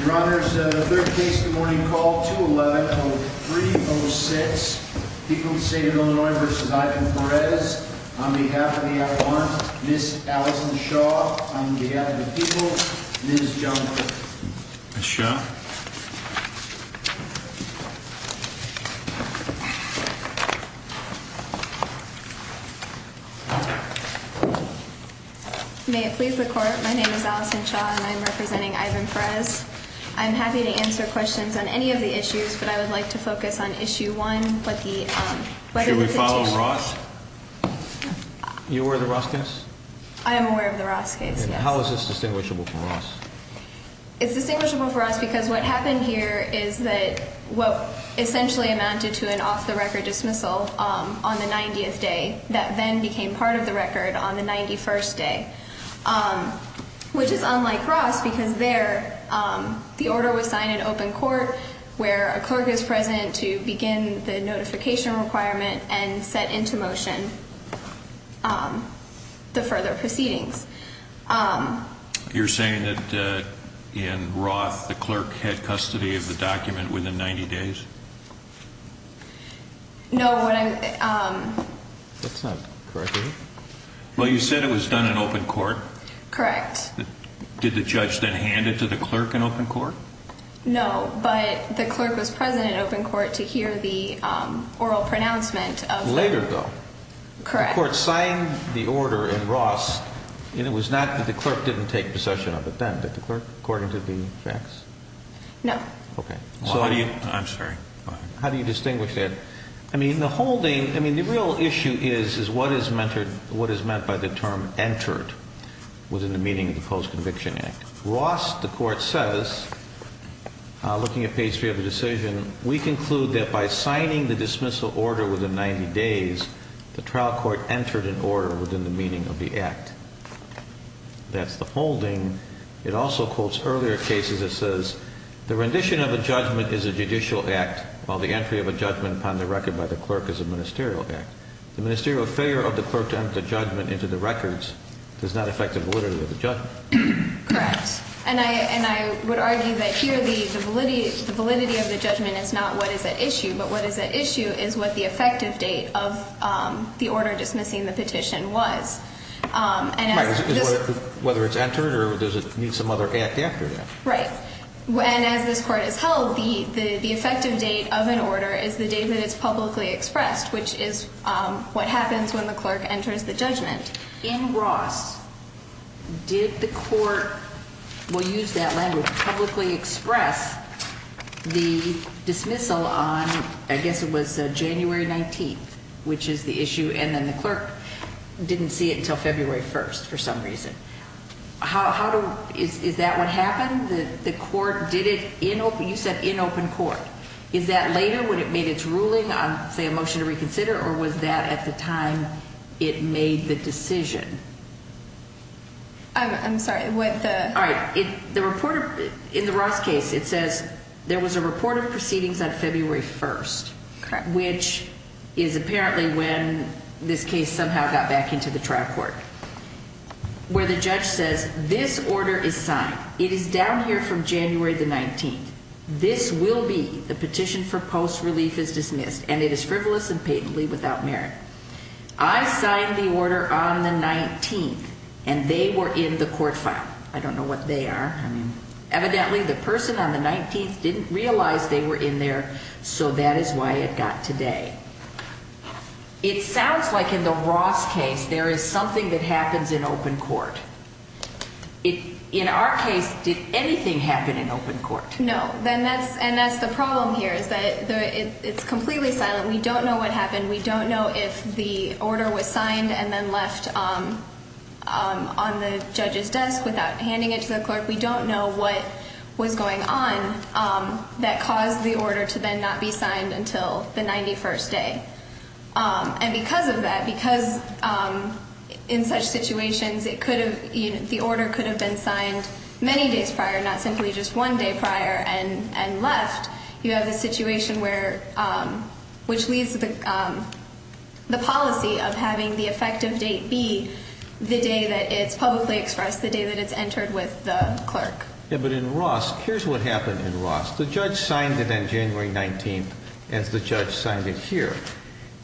Your Honor, this is the third case of the morning called 211-0306, People of the State of Illinois v. Ivan Perez. On behalf of the Avalanche, Ms. Allison Shaw. On behalf of the People, Ms. John Quirk. Ms. Shaw. May it please the Court, my name is Allison Shaw and I'm representing Ivan Perez. I'm happy to answer questions on any of the issues, but I would like to focus on Issue 1. Should we follow Ross? You're aware of the Ross case? I am aware of the Ross case, yes. How is this distinguishable from Ross? It's distinguishable from Ross because what happened here is that what essentially amounted to an off-the-record dismissal on the 90th day, that then became part of the record on the 91st day, which is unlike Ross because there the order was signed in open court where a clerk is present to begin the notification requirement and set into motion the further proceedings. You're saying that in Ross the clerk had custody of the document within 90 days? No, what I'm... That's not correct, is it? Well, you said it was done in open court? Correct. Did the judge then hand it to the clerk in open court? No, but the clerk was present in open court to hear the oral pronouncement of... Later though. Correct. The trial court signed the order in Ross and it was not that the clerk didn't take possession of it then. Did the clerk, according to the facts? No. Okay. I'm sorry. How do you distinguish that? I mean, the holding... I mean, the real issue is what is meant by the term entered within the meaning of the Post-Conviction Act. Ross, the court says, looking at page 3 of the decision, we conclude that by signing the dismissal order within 90 days, the trial court entered an order within the meaning of the act. That's the holding. It also quotes earlier cases. It says, the rendition of a judgment is a judicial act, while the entry of a judgment upon the record by the clerk is a ministerial act. The ministerial failure of the clerk to enter the judgment into the records does not affect the validity of the judgment. Correct. And I would argue that here the validity of the judgment is not what is at issue, but what is at issue is what the effective date of the order dismissing the petition was. Right. Whether it's entered or does it need some other act after that? Right. And as this Court has held, the effective date of an order is the date that it's publicly expressed, which is what happens when the clerk enters the judgment. In Ross, did the court, we'll use that language, publicly express the dismissal on, I guess it was January 19th, which is the issue, and then the clerk didn't see it until February 1st for some reason. Is that what happened? You said in open court. Is that later when it made its ruling on, say, a motion to reconsider, or was that at the time it made the decision? I'm sorry. All right. In the Ross case, it says there was a report of proceedings on February 1st, which is apparently when this case somehow got back into the trial court, where the judge says this order is signed. It is down here from January the 19th. This will be the petition for post-relief is dismissed, and it is frivolous and patently without merit. I signed the order on the 19th, and they were in the court file. I don't know what they are. Evidently, the person on the 19th didn't realize they were in there, so that is why it got today. It sounds like in the Ross case there is something that happens in open court. In our case, did anything happen in open court? No. And that's the problem here is that it's completely silent. We don't know what happened. We don't know if the order was signed and then left on the judge's desk without handing it to the clerk. We don't know what was going on that caused the order to then not be signed until the 91st day. And because of that, because in such situations the order could have been signed many days prior, not simply just one day prior and left, you have a situation which leaves the policy of having the effective date be the day that it's publicly expressed, the day that it's entered with the clerk. But in Ross, here's what happened in Ross. The judge signed it on January 19th as the judge signed it here.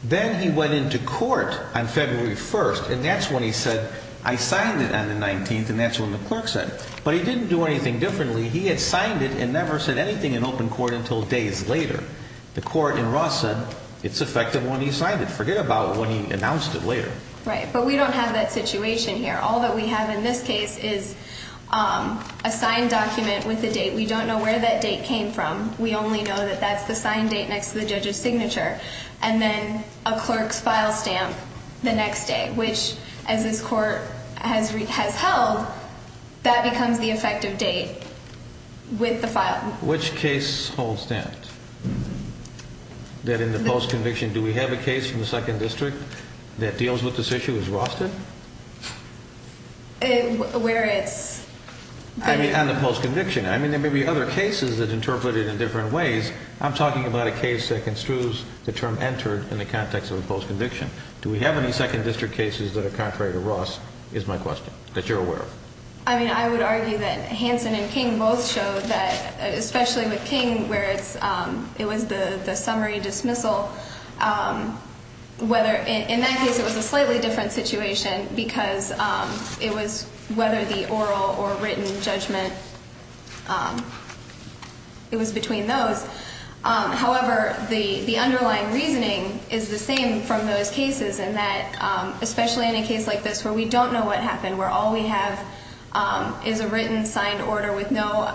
Then he went into court on February 1st, and that's when he said, I signed it on the 19th, and that's when the clerk said. But he didn't do anything differently. He had signed it and never said anything in open court until days later. The court in Ross said it's effective when he signed it. Forget about when he announced it later. Right, but we don't have that situation here. All that we have in this case is a signed document with a date. We don't know where that date came from. We only know that that's the signed date next to the judge's signature, and then a clerk's file stamp the next day, which, as this court has held, that becomes the effective date with the file. Which case holds that? That in the post-conviction, do we have a case from the 2nd District that deals with this issue as Ross did? Where it's been. I mean, on the post-conviction. I mean, there may be other cases that interpret it in different ways. I'm talking about a case that construes the term entered in the context of a post-conviction. Do we have any 2nd District cases that are contrary to Ross, is my question, that you're aware of? I mean, I would argue that Hanson and King both showed that, especially with King, where it was the summary dismissal, whether in that case it was a slightly different situation because it was whether the oral or written judgment, it was between those. However, the underlying reasoning is the same from those cases, and that especially in a case like this where we don't know what happened, where all we have is a written signed order with no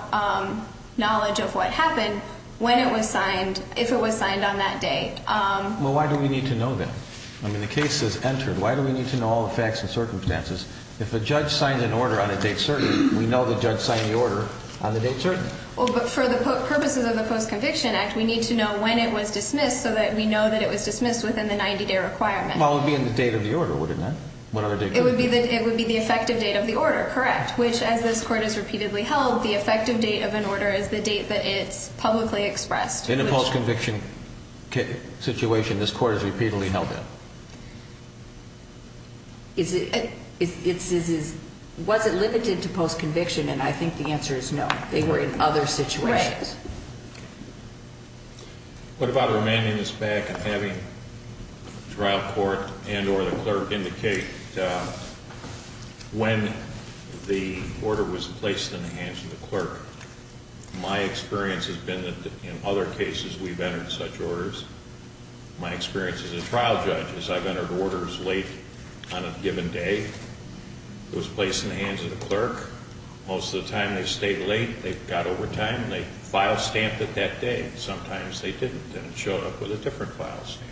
knowledge of what happened, when it was signed, if it was signed on that date. Well, why do we need to know that? I mean, the case is entered. Why do we need to know all the facts and circumstances? If a judge signs an order on a date certain, we know the judge signed the order on the date certain. Well, but for the purposes of the Post-Conviction Act, we need to know when it was dismissed so that we know that it was dismissed within the 90-day requirement. Well, it would be in the date of the order, wouldn't it? It would be the effective date of the order, correct, which, as this Court has repeatedly held, the effective date of an order is the date that it's publicly expressed. In a post-conviction situation, this Court has repeatedly held that. Was it limited to post-conviction? And I think the answer is no. They were in other situations. Right. What about remanding this back and having trial court and or the clerk indicate when the order was placed in the hands of the clerk? My experience has been that in other cases we've entered such orders. My experience as a trial judge is I've entered orders late on a given day. It was placed in the hands of the clerk. Most of the time they stayed late. They got overtime and they file stamped it that day. Sometimes they didn't and it showed up with a different file stamp.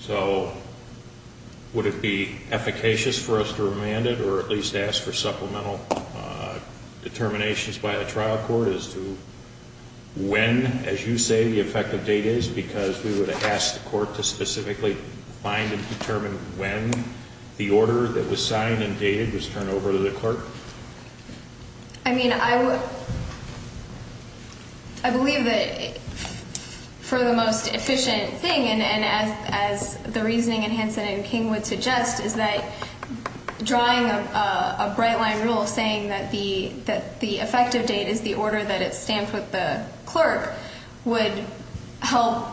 So would it be efficacious for us to remand it or at least ask for supplemental determinations by the trial court as to when, as you say, the effective date is because we would have asked the court to specifically find and determine when the order that was signed and dated was turned over to the clerk? I mean, I believe that for the most efficient thing, and as the reasoning in Hansen and King would suggest, is that drawing a bright line rule saying that the effective date is the order that it's stamped with the clerk, would help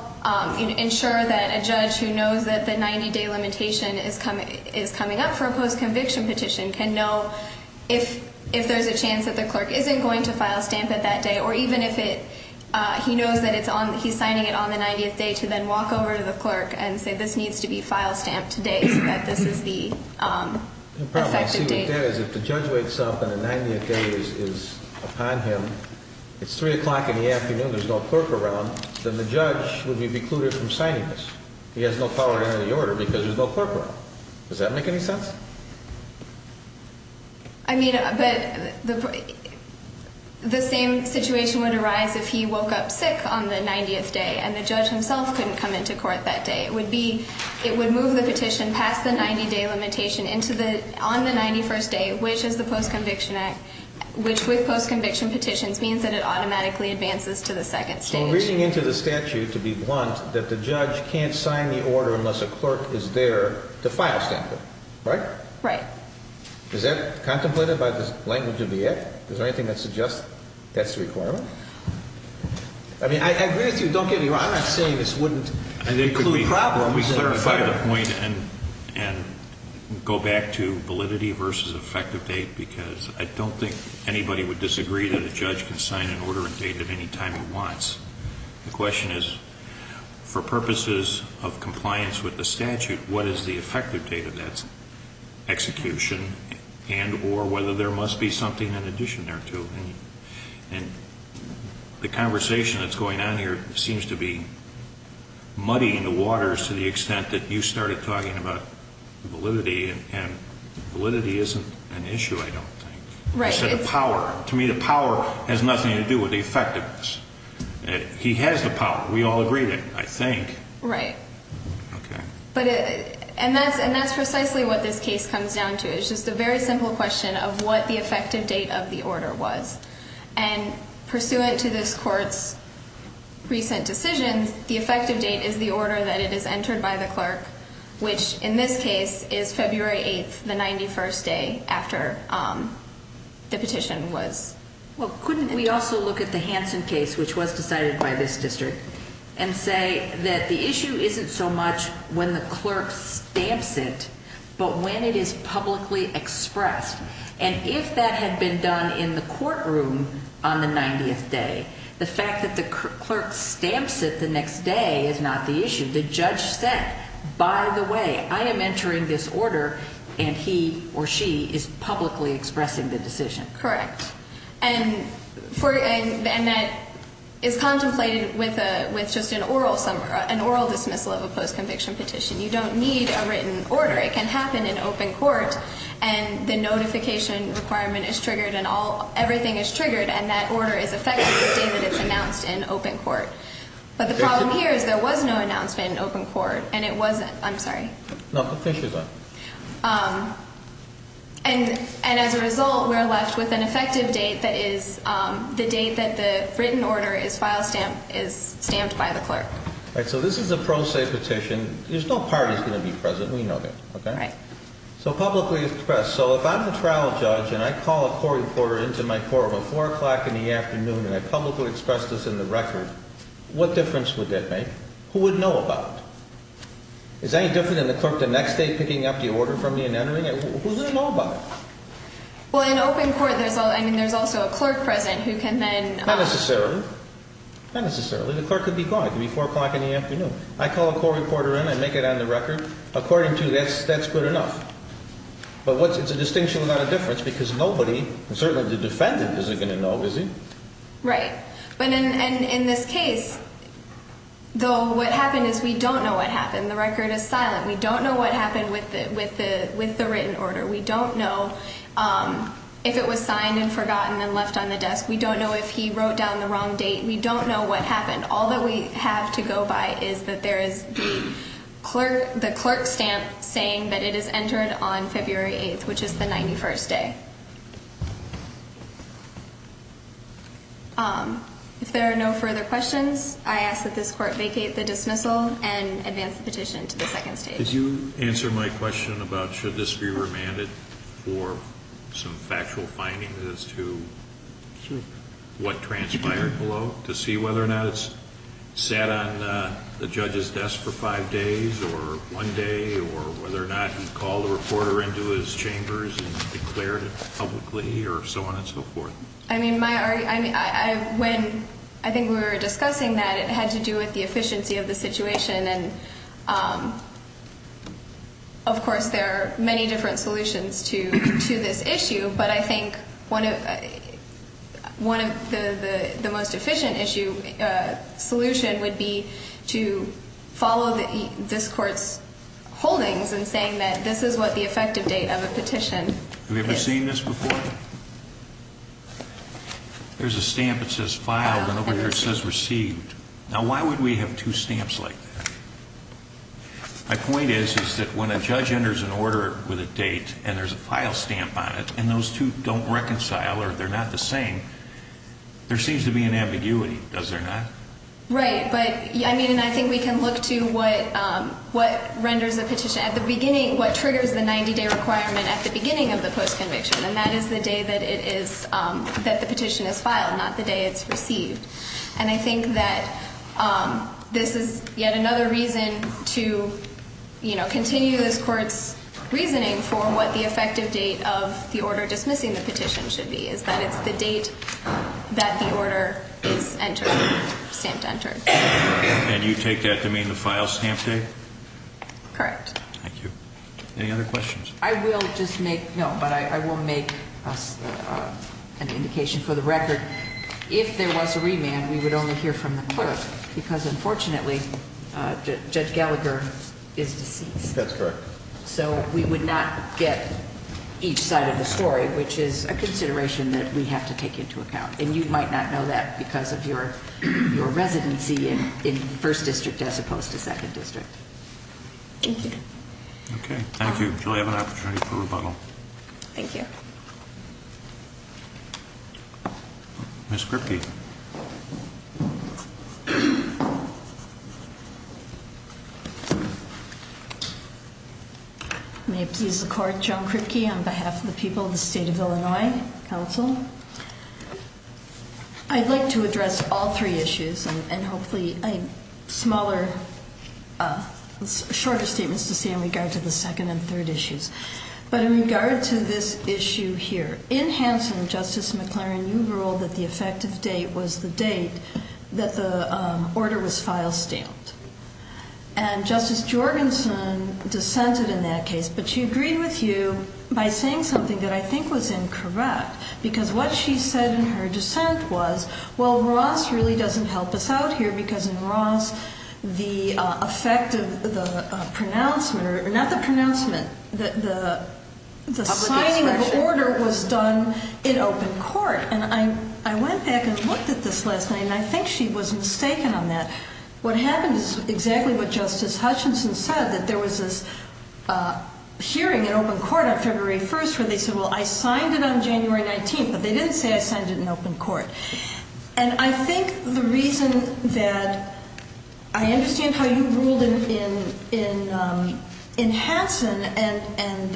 ensure that a judge who knows that the 90 day limitation is coming up for a post-conviction petition can know if there's a chance that the clerk isn't going to file stamp it that day or even if he knows that he's signing it on the 90th day to then walk over to the clerk and say this needs to be file stamped today so that this is the effective date. The problem I see with that is if the judge wakes up and the 90th day is upon him, it's 3 o'clock in the afternoon, there's no clerk around, then the judge would be precluded from signing this. He has no power in the order because there's no clerk around. Does that make any sense? I mean, but the same situation would arise if he woke up sick on the 90th day and the judge himself couldn't come into court that day. It would move the petition past the 90 day limitation on the 91st day, which is the post-conviction act, which with post-conviction petitions means that it automatically advances to the second stage. So we're reading into the statute to be blunt that the judge can't sign the order unless a clerk is there to file stamp it, right? Right. Is that contemplated by the language of the act? Is there anything that suggests that's the requirement? I mean, I agree with you. Don't get me wrong. I'm not saying this wouldn't include problems. Let me clarify the point and go back to validity versus effective date because I don't think anybody would disagree that a judge can sign an order and date at any time he wants. The question is, for purposes of compliance with the statute, what is the effective date of that execution and or whether there must be something in addition thereto. And the conversation that's going on here seems to be muddy in the waters to the extent that you started talking about validity, and validity isn't an issue, I don't think. Right. It's the power. To me, the power has nothing to do with the effectiveness. He has the power. We all agree that, I think. Right. Okay. And that's precisely what this case comes down to. It's just a very simple question of what the effective date of the order was. And pursuant to this court's recent decisions, the effective date is the order that it is entered by the clerk, which in this case is February 8th, the 91st day after the petition was. Well, couldn't we also look at the Hansen case, which was decided by this district, and say that the issue isn't so much when the clerk stamps it but when it is publicly expressed? And if that had been done in the courtroom on the 90th day, the fact that the clerk stamps it the next day is not the issue. The judge said, by the way, I am entering this order, and he or she is publicly expressing the decision. Correct. And that is contemplated with just an oral dismissal of a post-conviction petition. You don't need a written order. It can happen in open court, and the notification requirement is triggered and everything is triggered, and that order is effective the day that it's announced in open court. But the problem here is there was no announcement in open court, and it wasn't. I'm sorry. No, the fish is on. And as a result, we're left with an effective date that is the date that the written order is stamped by the clerk. All right. So this is a pro se petition. There's no parties going to be present. We know that. All right. So publicly expressed. So if I'm the trial judge and I call a court reporter into my court about 4 o'clock in the afternoon and I publicly express this in the record, what difference would that make? Who would know about it? Is that any different than the clerk the next day picking up the order from me and entering it? Who's going to know about it? Well, in open court, I mean, there's also a clerk present who can then – Not necessarily. Not necessarily. The clerk could be gone. It could be 4 o'clock in the afternoon. I call a court reporter in. I make it on the record. According to you, that's good enough. But it's a distinction without a difference because nobody, certainly the defendant, isn't going to know, is he? Right. And in this case, though, what happened is we don't know what happened. The record is silent. We don't know what happened with the written order. We don't know if it was signed and forgotten and left on the desk. We don't know if he wrote down the wrong date. We don't know what happened. All that we have to go by is that there is the clerk stamp saying that it is entered on February 8th, which is the 91st day. If there are no further questions, I ask that this court vacate the dismissal and advance the petition to the second stage. Could you answer my question about should this be remanded for some factual findings as to what transpired below, to see whether or not it sat on the judge's desk for five days or one day, or whether or not he called a reporter into his chambers and declared it publicly or so on and so forth? I mean, when I think we were discussing that, it had to do with the efficiency of the situation. And, of course, there are many different solutions to this issue, but I think one of the most efficient solution would be to follow this court's holdings in saying that this is what the effective date of a petition is. Have you ever seen this before? There's a stamp that says filed and over here it says received. Now, why would we have two stamps like that? My point is, is that when a judge enters an order with a date and there's a file stamp on it and those two don't reconcile or they're not the same, there seems to be an ambiguity. Does there not? Right. But, I mean, and I think we can look to what renders a petition at the beginning, what triggers the 90-day requirement at the beginning of the post-conviction, and that is the day that it is, that the petition is filed, not the day it's received. And I think that this is yet another reason to, you know, continue this court's reasoning for what the effective date of the order dismissing the petition should be, is that it's the date that the order is entered, stamped entered. And you take that to mean the file stamp date? Correct. Thank you. Any other questions? I will just make, no, but I will make an indication for the record. If there was a remand, we would only hear from the clerk because, unfortunately, Judge Gallagher is deceased. That's correct. So we would not get each side of the story, which is a consideration that we have to take into account. And you might not know that because of your residency in First District as opposed to Second District. Thank you. Okay. Thank you. Julie, I have an opportunity for rebuttal. Thank you. Ms. Kripke. May it please the Court, Joan Kripke on behalf of the people of the State of Illinois Council. I'd like to address all three issues and hopefully smaller, shorter statements to say in regard to the second and third issues. But in regard to this issue here, in Hanson, Justice McLaren, you ruled that the effective date was the date that the order was file stamped. And Justice Jorgenson dissented in that case. But she agreed with you by saying something that I think was incorrect because what she said in her dissent was, well, Ross really doesn't help us out here because in Ross, the effect of the pronouncement, or not the pronouncement, the signing of order was done in open court. And I went back and looked at this last night, and I think she was mistaken on that. What happened is exactly what Justice Hutchinson said, that there was this hearing in open court on February 1st where they said, well, I signed it on January 19th, but they didn't say I signed it in open court. And I think the reason that I understand how you ruled in Hanson and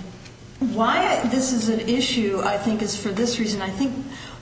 why this is an issue, I think, is for this reason. I think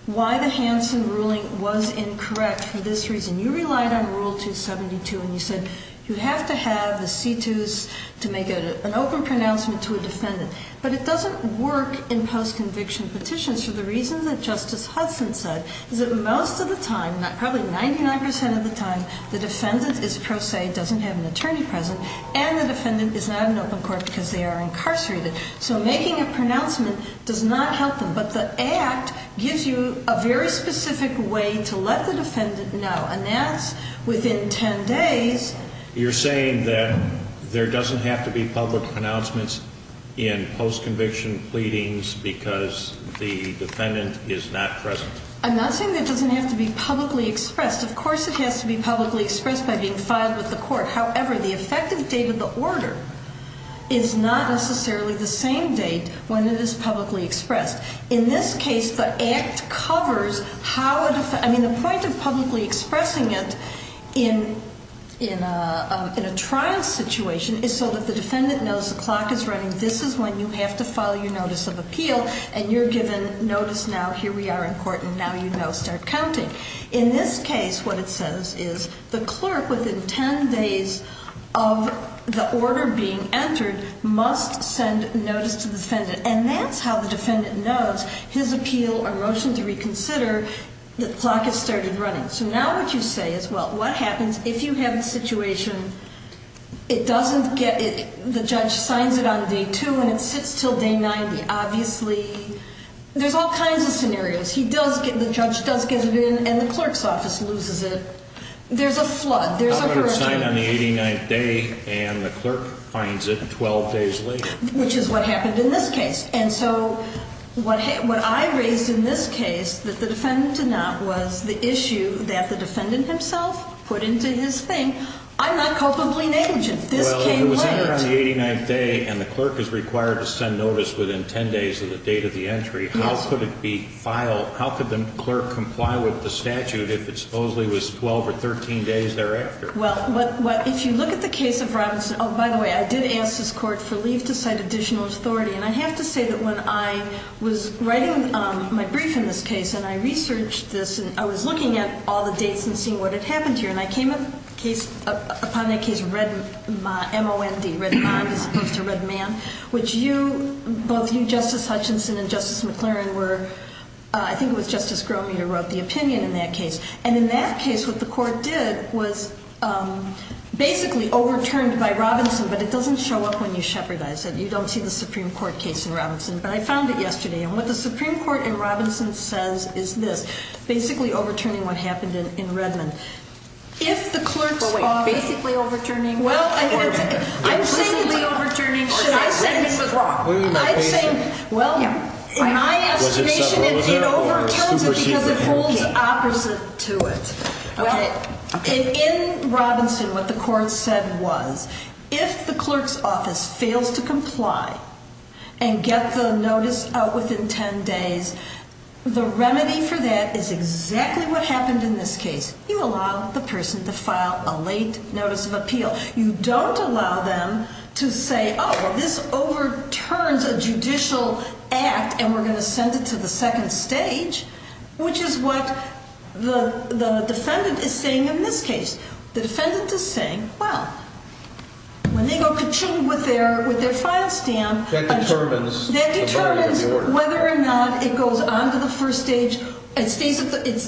why the Hanson ruling was incorrect for this reason. You relied on Rule 272, and you said you have to have a situs to make an open pronouncement to a defendant. But it doesn't work in post-conviction petitions for the reasons that Justice Hudson said, is that most of the time, probably 99 percent of the time, the defendant is pro se, doesn't have an attorney present, and the defendant is not in open court because they are incarcerated. So making a pronouncement does not help them. But the Act gives you a very specific way to let the defendant know, and that's within 10 days. You're saying that there doesn't have to be public pronouncements in post-conviction pleadings because the defendant is not present? I'm not saying it doesn't have to be publicly expressed. Of course it has to be publicly expressed by being filed with the court. However, the effective date of the order is not necessarily the same date when it is publicly expressed. In this case, the Act covers how a defendant, I mean the point of publicly expressing it in a trial situation is so that the defendant knows the clock is running, this is when you have to file your notice of appeal, and you're given notice now, here we are in court, and now you know, start counting. In this case, what it says is the clerk, within 10 days of the order being entered, must send notice to the defendant, and that's how the defendant knows his appeal or motion to reconsider, the clock has started running. So now what you say is, well, what happens if you have a situation, it doesn't get, the judge signs it on day 2 and it sits till day 9, obviously, there's all kinds of scenarios. He does get, the judge does get it in, and the clerk's office loses it. There's a flood, there's a hurricane. The order is signed on the 89th day, and the clerk finds it 12 days later. Which is what happened in this case. And so what I raised in this case, that the defendant did not, was the issue that the defendant himself put into his thing. I'm not culpably negligent, this came late. If it's signed on the 89th day, and the clerk is required to send notice within 10 days of the date of the entry, how could it be filed, how could the clerk comply with the statute if it supposedly was 12 or 13 days thereafter? Well, if you look at the case of Robinson, oh, by the way, I did ask this Court for leave to cite additional authority, and I have to say that when I was writing my brief in this case, and I researched this, and I was looking at all the dates and seeing what had happened here, and I came upon the case Redmond, M-O-N-D, Redmond as opposed to Redmond, which you, both you, Justice Hutchinson and Justice McLaren were, I think it was Justice Gromitter who wrote the opinion in that case. And in that case, what the Court did was basically overturned by Robinson, but it doesn't show up when you shepherdize it. You don't see the Supreme Court case in Robinson. But I found it yesterday, and what the Supreme Court in Robinson says is this, basically overturning what happened in Redmond. If the clerk's office... Well, wait, basically overturning... Well, I'm saying... Basically overturning... Should I say... Redmond was wrong. I'm saying... Well, in my estimation, it overturns it because it holds opposite to it. Okay. In Robinson, what the Court said was if the clerk's office fails to comply and get the notice out within 10 days, the remedy for that is exactly what happened in this case. You allow the person to file a late notice of appeal. You don't allow them to say, oh, well, this overturns a judicial act and we're going to send it to the second stage, which is what the defendant is saying in this case. The defendant is saying, well, when they go ka-ching with their file stamp... That determines... It goes on to the first stage. It's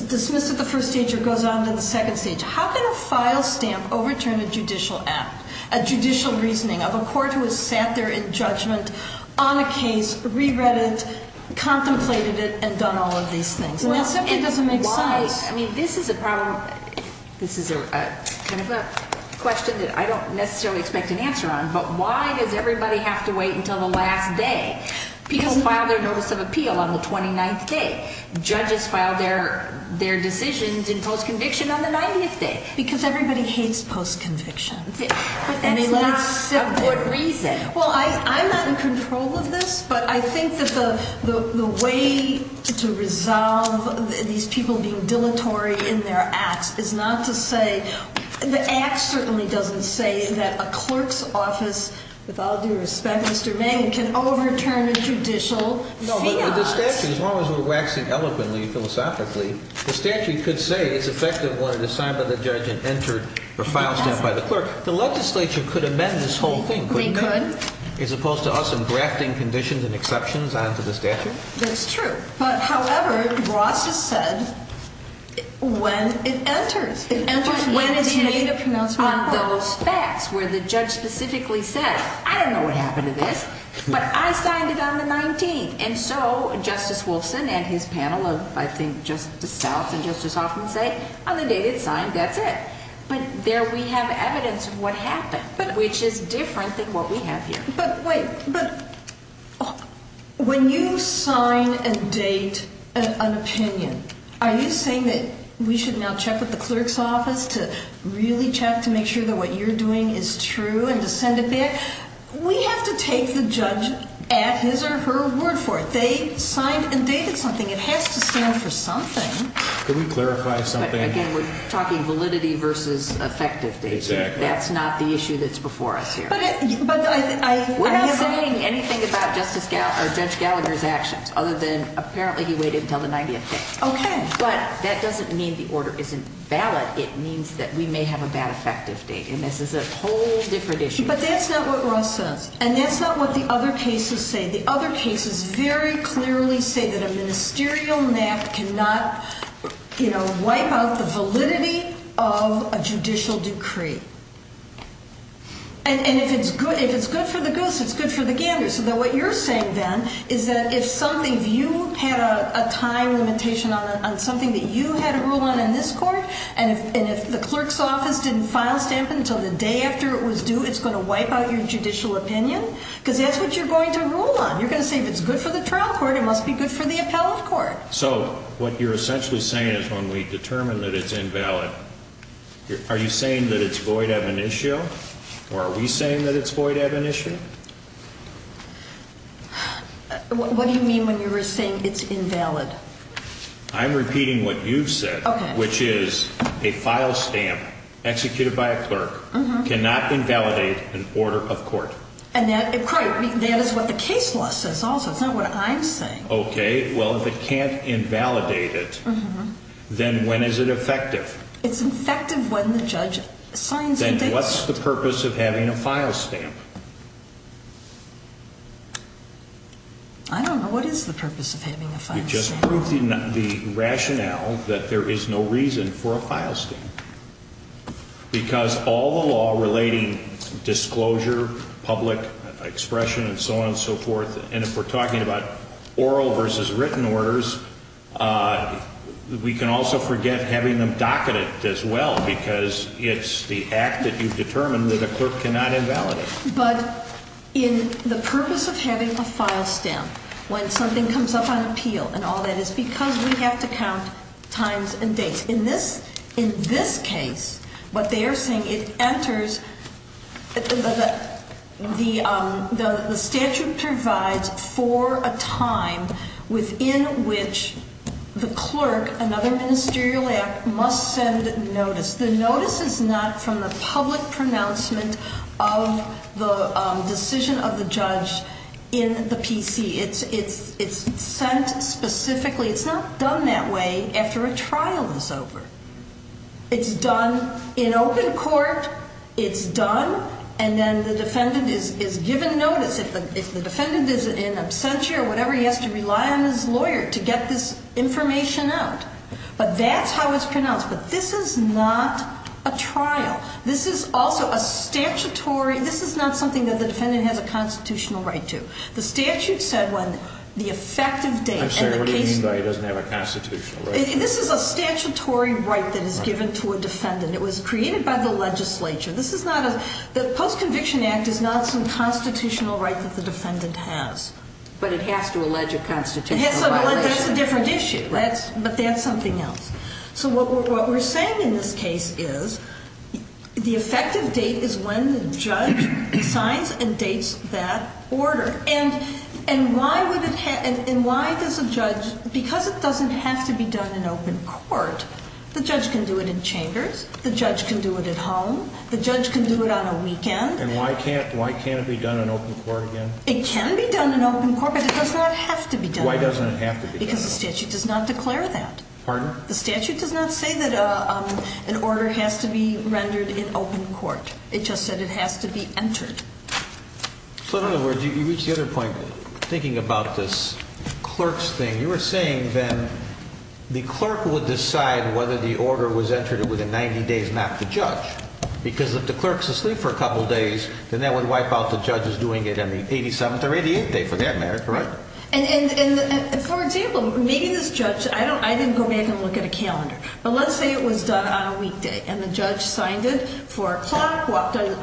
dismissed at the first stage or goes on to the second stage. How can a file stamp overturn a judicial act, a judicial reasoning of a court who has sat there in judgment on a case, re-read it, contemplated it, and done all of these things? And that simply doesn't make sense. I mean, this is a problem. This is kind of a question that I don't necessarily expect an answer on, but why does everybody have to wait until the last day? People file their notice of appeal on the 29th day. Judges file their decisions in post-conviction on the 90th day. Because everybody hates post-conviction. But that's not a good reason. Well, I'm not in control of this, but I think that the way to resolve these people being dilatory in their acts is not to say... With all due respect, Mr. Mangan, can overturn a judicial fiat. No, but the statute, as long as we're waxing eloquently, philosophically, the statute could say it's effective when it is signed by the judge and entered a file stamp by the clerk. The legislature could amend this whole thing, couldn't it? We could. As opposed to us engrafting conditions and exceptions onto the statute? That's true. But, however, Ross has said when it enters. It enters when it's made a pronouncement. On those facts where the judge specifically says, I don't know what happened to this, but I signed it on the 19th. And so Justice Wolfson and his panel of, I think, spouses and Justice Hoffman say, on the date it's signed, that's it. But there we have evidence of what happened, which is different than what we have here. But, wait, when you sign a date, an opinion, are you saying that we should now check with the clerk's office to really check to make sure that what you're doing is true and to send it back? We have to take the judge at his or her word for it. They signed and dated something. It has to stand for something. Could we clarify something? Again, we're talking validity versus effective dates. Exactly. That's not the issue that's before us here. We're not saying anything about Judge Gallagher's actions, other than apparently he waited until the 90th day. Okay. But that doesn't mean the order isn't valid. It means that we may have a bad effective date. And this is a whole different issue. But that's not what Ross says. And that's not what the other cases say. The other cases very clearly say that a ministerial nap cannot wipe out the validity of a judicial decree. And if it's good for the goose, it's good for the gander. So what you're saying then is that if you had a time limitation on something that you had a rule on in this court, and if the clerk's office didn't file stamp it until the day after it was due, it's going to wipe out your judicial opinion? Because that's what you're going to rule on. You're going to say if it's good for the trial court, it must be good for the appellate court. So what you're essentially saying is when we determine that it's invalid, are you saying that it's void ab initio? Or are we saying that it's void ab initio? What do you mean when you were saying it's invalid? I'm repeating what you've said, which is a file stamp executed by a clerk cannot invalidate an order of court. And that is what the case law says also. It's not what I'm saying. Okay. Well, if it can't invalidate it, then when is it effective? It's effective when the judge signs it. Then what's the purpose of having a file stamp? I don't know. What is the purpose of having a file stamp? You just proved the rationale that there is no reason for a file stamp. Because all the law relating disclosure, public expression, and so on and so forth, and if we're talking about oral versus written orders, we can also forget having them docketed as well because it's the act that you've determined that a clerk cannot invalidate. But in the purpose of having a file stamp, when something comes up on appeal and all that, it's because we have to count times and dates. In this case, what they are saying, the statute provides for a time within which the clerk, another ministerial act, must send notice. The notice is not from the public pronouncement of the decision of the judge in the PC. It's sent specifically. It's not done that way after a trial is over. It's done in open court. It's done, and then the defendant is given notice. If the defendant is in absentia or whatever, he has to rely on his lawyer to get this information out. But that's how it's pronounced. But this is not a trial. This is also a statutory. This is not something that the defendant has a constitutional right to. The statute said when the effective date. I'm sorry, what do you mean by it doesn't have a constitutional right? This is a statutory right that is given to a defendant. It was created by the legislature. The Post-Conviction Act is not some constitutional right that the defendant has. But it has to allege a constitutional violation. That's a different issue, but that's something else. So what we're saying in this case is the effective date is when the judge signs and dates that order. And why does a judge, because it doesn't have to be done in open court, the judge can do it in chambers. The judge can do it at home. The judge can do it on a weekend. And why can't it be done in open court again? It can be done in open court, but it does not have to be done. Why doesn't it have to be done? Because the statute does not declare that. The statute does not say that an order has to be rendered in open court. It just said it has to be entered. So in other words, you reach the other point. Thinking about this clerk's thing, you were saying then the clerk would decide whether the order was entered within 90 days, not the judge. Because if the clerk's asleep for a couple days, then that would wipe out the judges doing it on the 87th or 88th day for that matter, correct? And for example, maybe this judge, I didn't go back and look at a calendar, but let's say it was done on a weekday. And the judge signed it for a clock, walked out of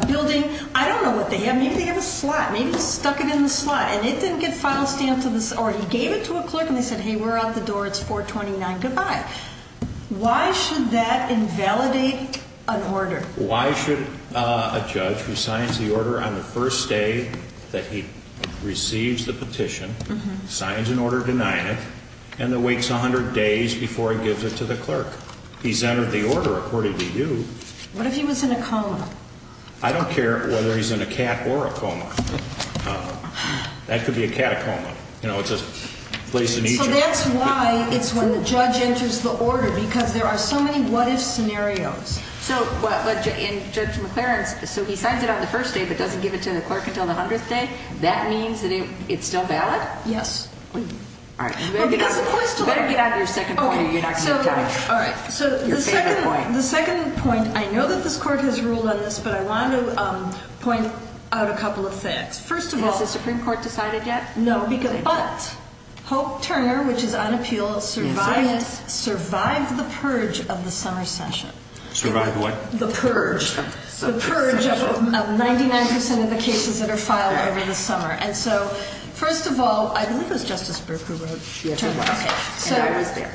the building. I don't know what they have. Maybe they have a slot. Maybe they stuck it in the slot. And it didn't get file stamped to the, or he gave it to a clerk and they said, hey, we're out the door. It's 429. Goodbye. Why should that invalidate an order? Why should a judge who signs the order on the first day that he receives the petition, signs an order denying it, and then waits 100 days before he gives it to the clerk? He's entered the order, according to you. What if he was in a coma? I don't care whether he's in a cat or a coma. That could be a cat coma. You know, it's a place in Egypt. So that's why it's when the judge enters the order, because there are so many what-if scenarios. So, in Judge McLaren's, so he signs it on the first day but doesn't give it to the clerk until the 100th day, that means that it's still valid? Yes. All right. You better get out of your second point or you're not going to get time. All right. So the second point, I know that this court has ruled on this, but I wanted to point out a couple of facts. First of all. Has the Supreme Court decided yet? No. But Hope Turner, which is on appeal, survived the purge of the summer session. Survived what? The purge. The purge of 99% of the cases that are filed over the summer. And so, first of all, I believe it was Justice Berger who wrote. Yes. And I was there.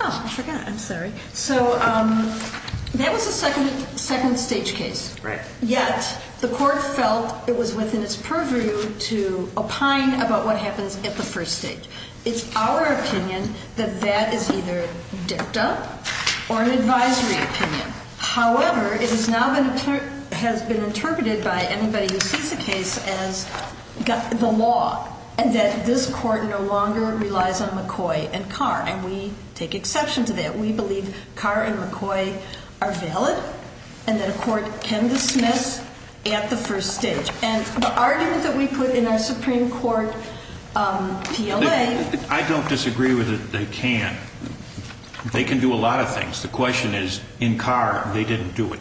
Oh, I forgot. I'm sorry. So that was a second-stage case. Right. Yet the court felt it was within its purview to opine about what happens at the first stage. It's our opinion that that is either dipped up or an advisory opinion. However, it has now been interpreted by anybody who sees the case as the law. And that this court no longer relies on McCoy and Carr. And we take exception to that. We believe Carr and McCoy are valid. And that a court can dismiss at the first stage. And the argument that we put in our Supreme Court PLA. I don't disagree with it. They can. They can do a lot of things. The question is, in Carr, they didn't do it.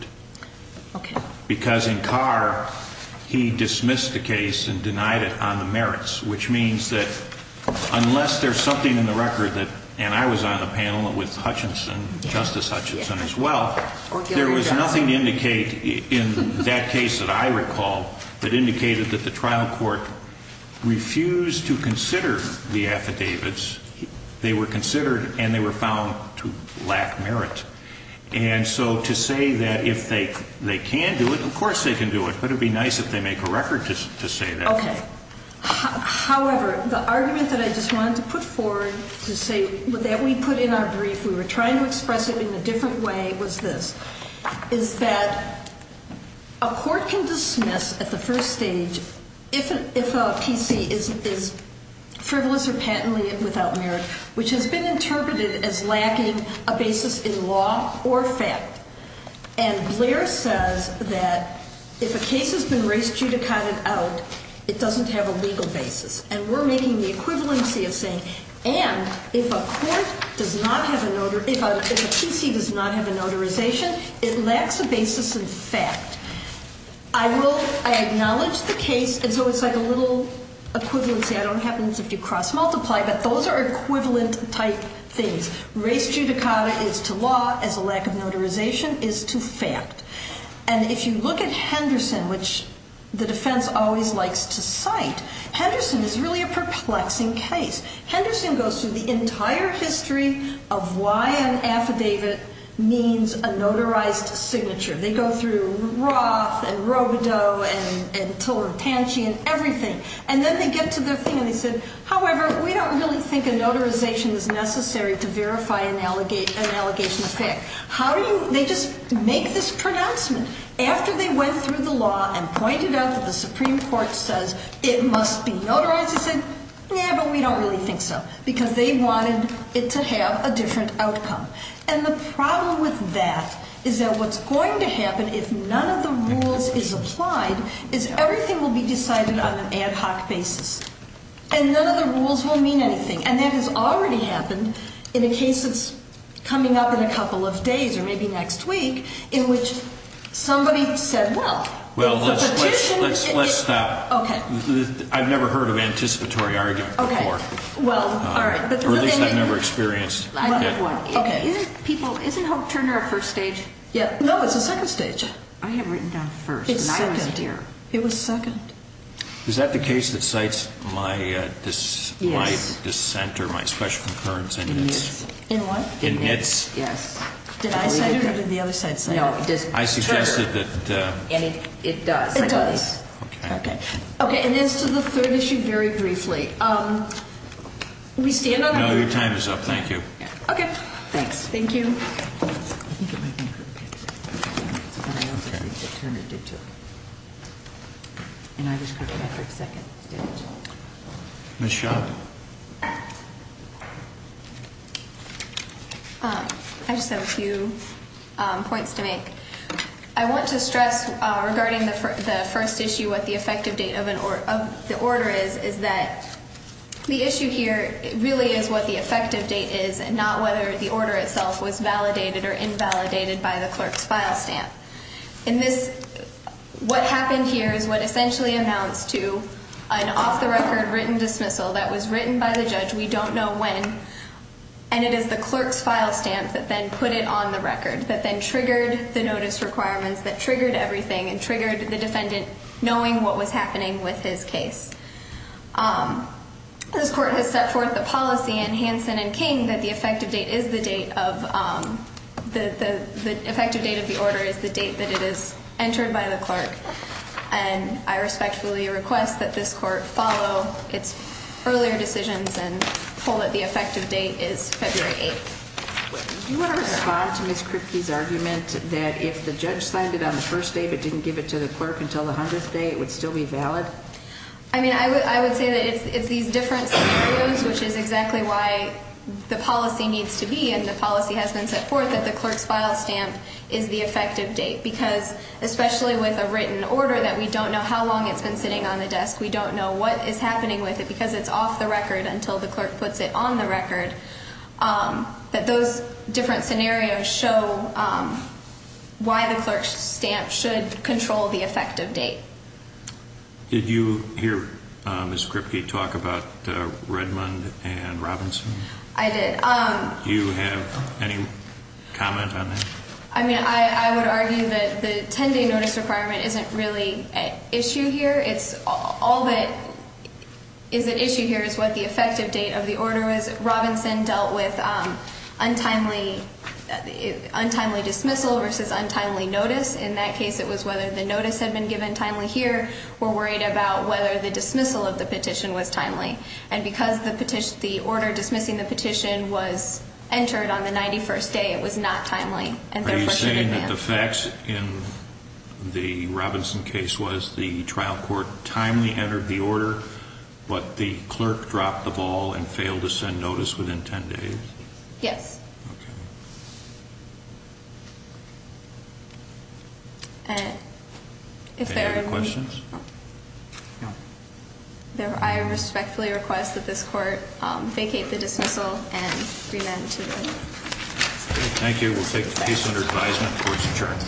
Okay. Because in Carr, he dismissed the case and denied it on the merits. Which means that unless there's something in the record that, and I was on the panel with Hutchinson, Justice Hutchinson as well, there was nothing to indicate in that case that I recall that indicated that the trial court refused to consider the affidavits. They were considered and they were found to lack merit. And so to say that if they can do it, of course they can do it. But it would be nice if they make a record to say that. Okay. However, the argument that I just wanted to put forward to say that we put in our brief, we were trying to express it in a different way, was this. Is that a court can dismiss at the first stage if a PC is frivolous or patently without merit. Which has been interpreted as lacking a basis in law or fact. And Blair says that if a case has been race judicated out, it doesn't have a legal basis. And we're making the equivalency of saying, and if a court does not have a, if a PC does not have a notarization, it lacks a basis in fact. I will, I acknowledge the case, and so it's like a little equivalency. I don't know what happens if you cross multiply, but those are equivalent type things. Race judicata is to law as a lack of notarization is to fact. And if you look at Henderson, which the defense always likes to cite, Henderson is really a perplexing case. Henderson goes through the entire history of why an affidavit means a notarized signature. They go through Roth and Robodeau and Tillertanchy and everything. And then they get to their thing and they said, however, we don't really think a notarization is necessary to verify an allegation of fact. How do you, they just make this pronouncement after they went through the law and pointed out that the Supreme Court says it must be notarized. They said, yeah, but we don't really think so because they wanted it to have a different outcome. And the problem with that is that what's going to happen if none of the rules is applied is everything will be decided on an ad hoc basis. And none of the rules will mean anything. And that has already happened in a case that's coming up in a couple of days or maybe next week in which somebody said, well. Well, let's stop. OK. I've never heard of anticipatory argument before. OK. Well, all right. Or at least I've never experienced it. I have one. OK. Isn't Hope Turner a first stage? No, it's a second stage. I have written down first. It's second. And I was here. It was second. Is that the case that cites my dissent or my special concurrence in its? In what? In its? Yes. Did I cite it or did the other side cite it? No. I suggested that. It does. It does. OK. OK. OK. And as to the third issue, very briefly, we stand on. No, your time is up. Thank you. OK. Thanks. Thank you. I think it might be. Turner did, too. And I described it as second stage. Ms. Schott. I just have a few points to make. I want to stress regarding the first issue, what the effective date of the order is, is that the issue here really is what the effective date is and not whether the order itself was validated or invalidated by the clerk's file stamp. In this, what happened here is what essentially amounts to an off-the-record written dismissal that was written by the judge. We don't know when. And it is the clerk's file stamp that then put it on the record, that then triggered the notice requirements, that triggered everything and triggered the defendant knowing what was happening with his case. This court has set forth the policy in Hansen and King that the effective date of the order is the date that it is entered by the clerk. And I respectfully request that this court follow its earlier decisions and hold that the effective date is February 8th. Do you want to respond to Ms. Kripke's argument that if the judge signed it on the first day but didn't give it to the clerk until the 100th day, it would still be valid? I mean, I would say that it's these different scenarios, which is exactly why the policy needs to be and the policy has been set forth that the clerk's file stamp is the effective date, because especially with a written order that we don't know how long it's been sitting on the desk, we don't know what is happening with it because it's off the record until the clerk puts it on the record, that those different scenarios show why the clerk's stamp should control the effective date. Did you hear Ms. Kripke talk about Redmond and Robinson? I did. Do you have any comment on that? I mean, I would argue that the 10-day notice requirement isn't really an issue here. All that is an issue here is what the effective date of the order is. Robinson dealt with untimely dismissal versus untimely notice. In that case, it was whether the notice had been given timely here. We're worried about whether the dismissal of the petition was timely. And because the order dismissing the petition was entered on the 91st day, it was not timely. Are you saying that the facts in the Robinson case was the trial court timely entered the order, but the clerk dropped the ball and failed to send notice within 10 days? Yes. Okay. Any other questions? No. I respectfully request that this court vacate the dismissal and remand to the court. Thank you. We'll take the case under advisement. Court is adjourned.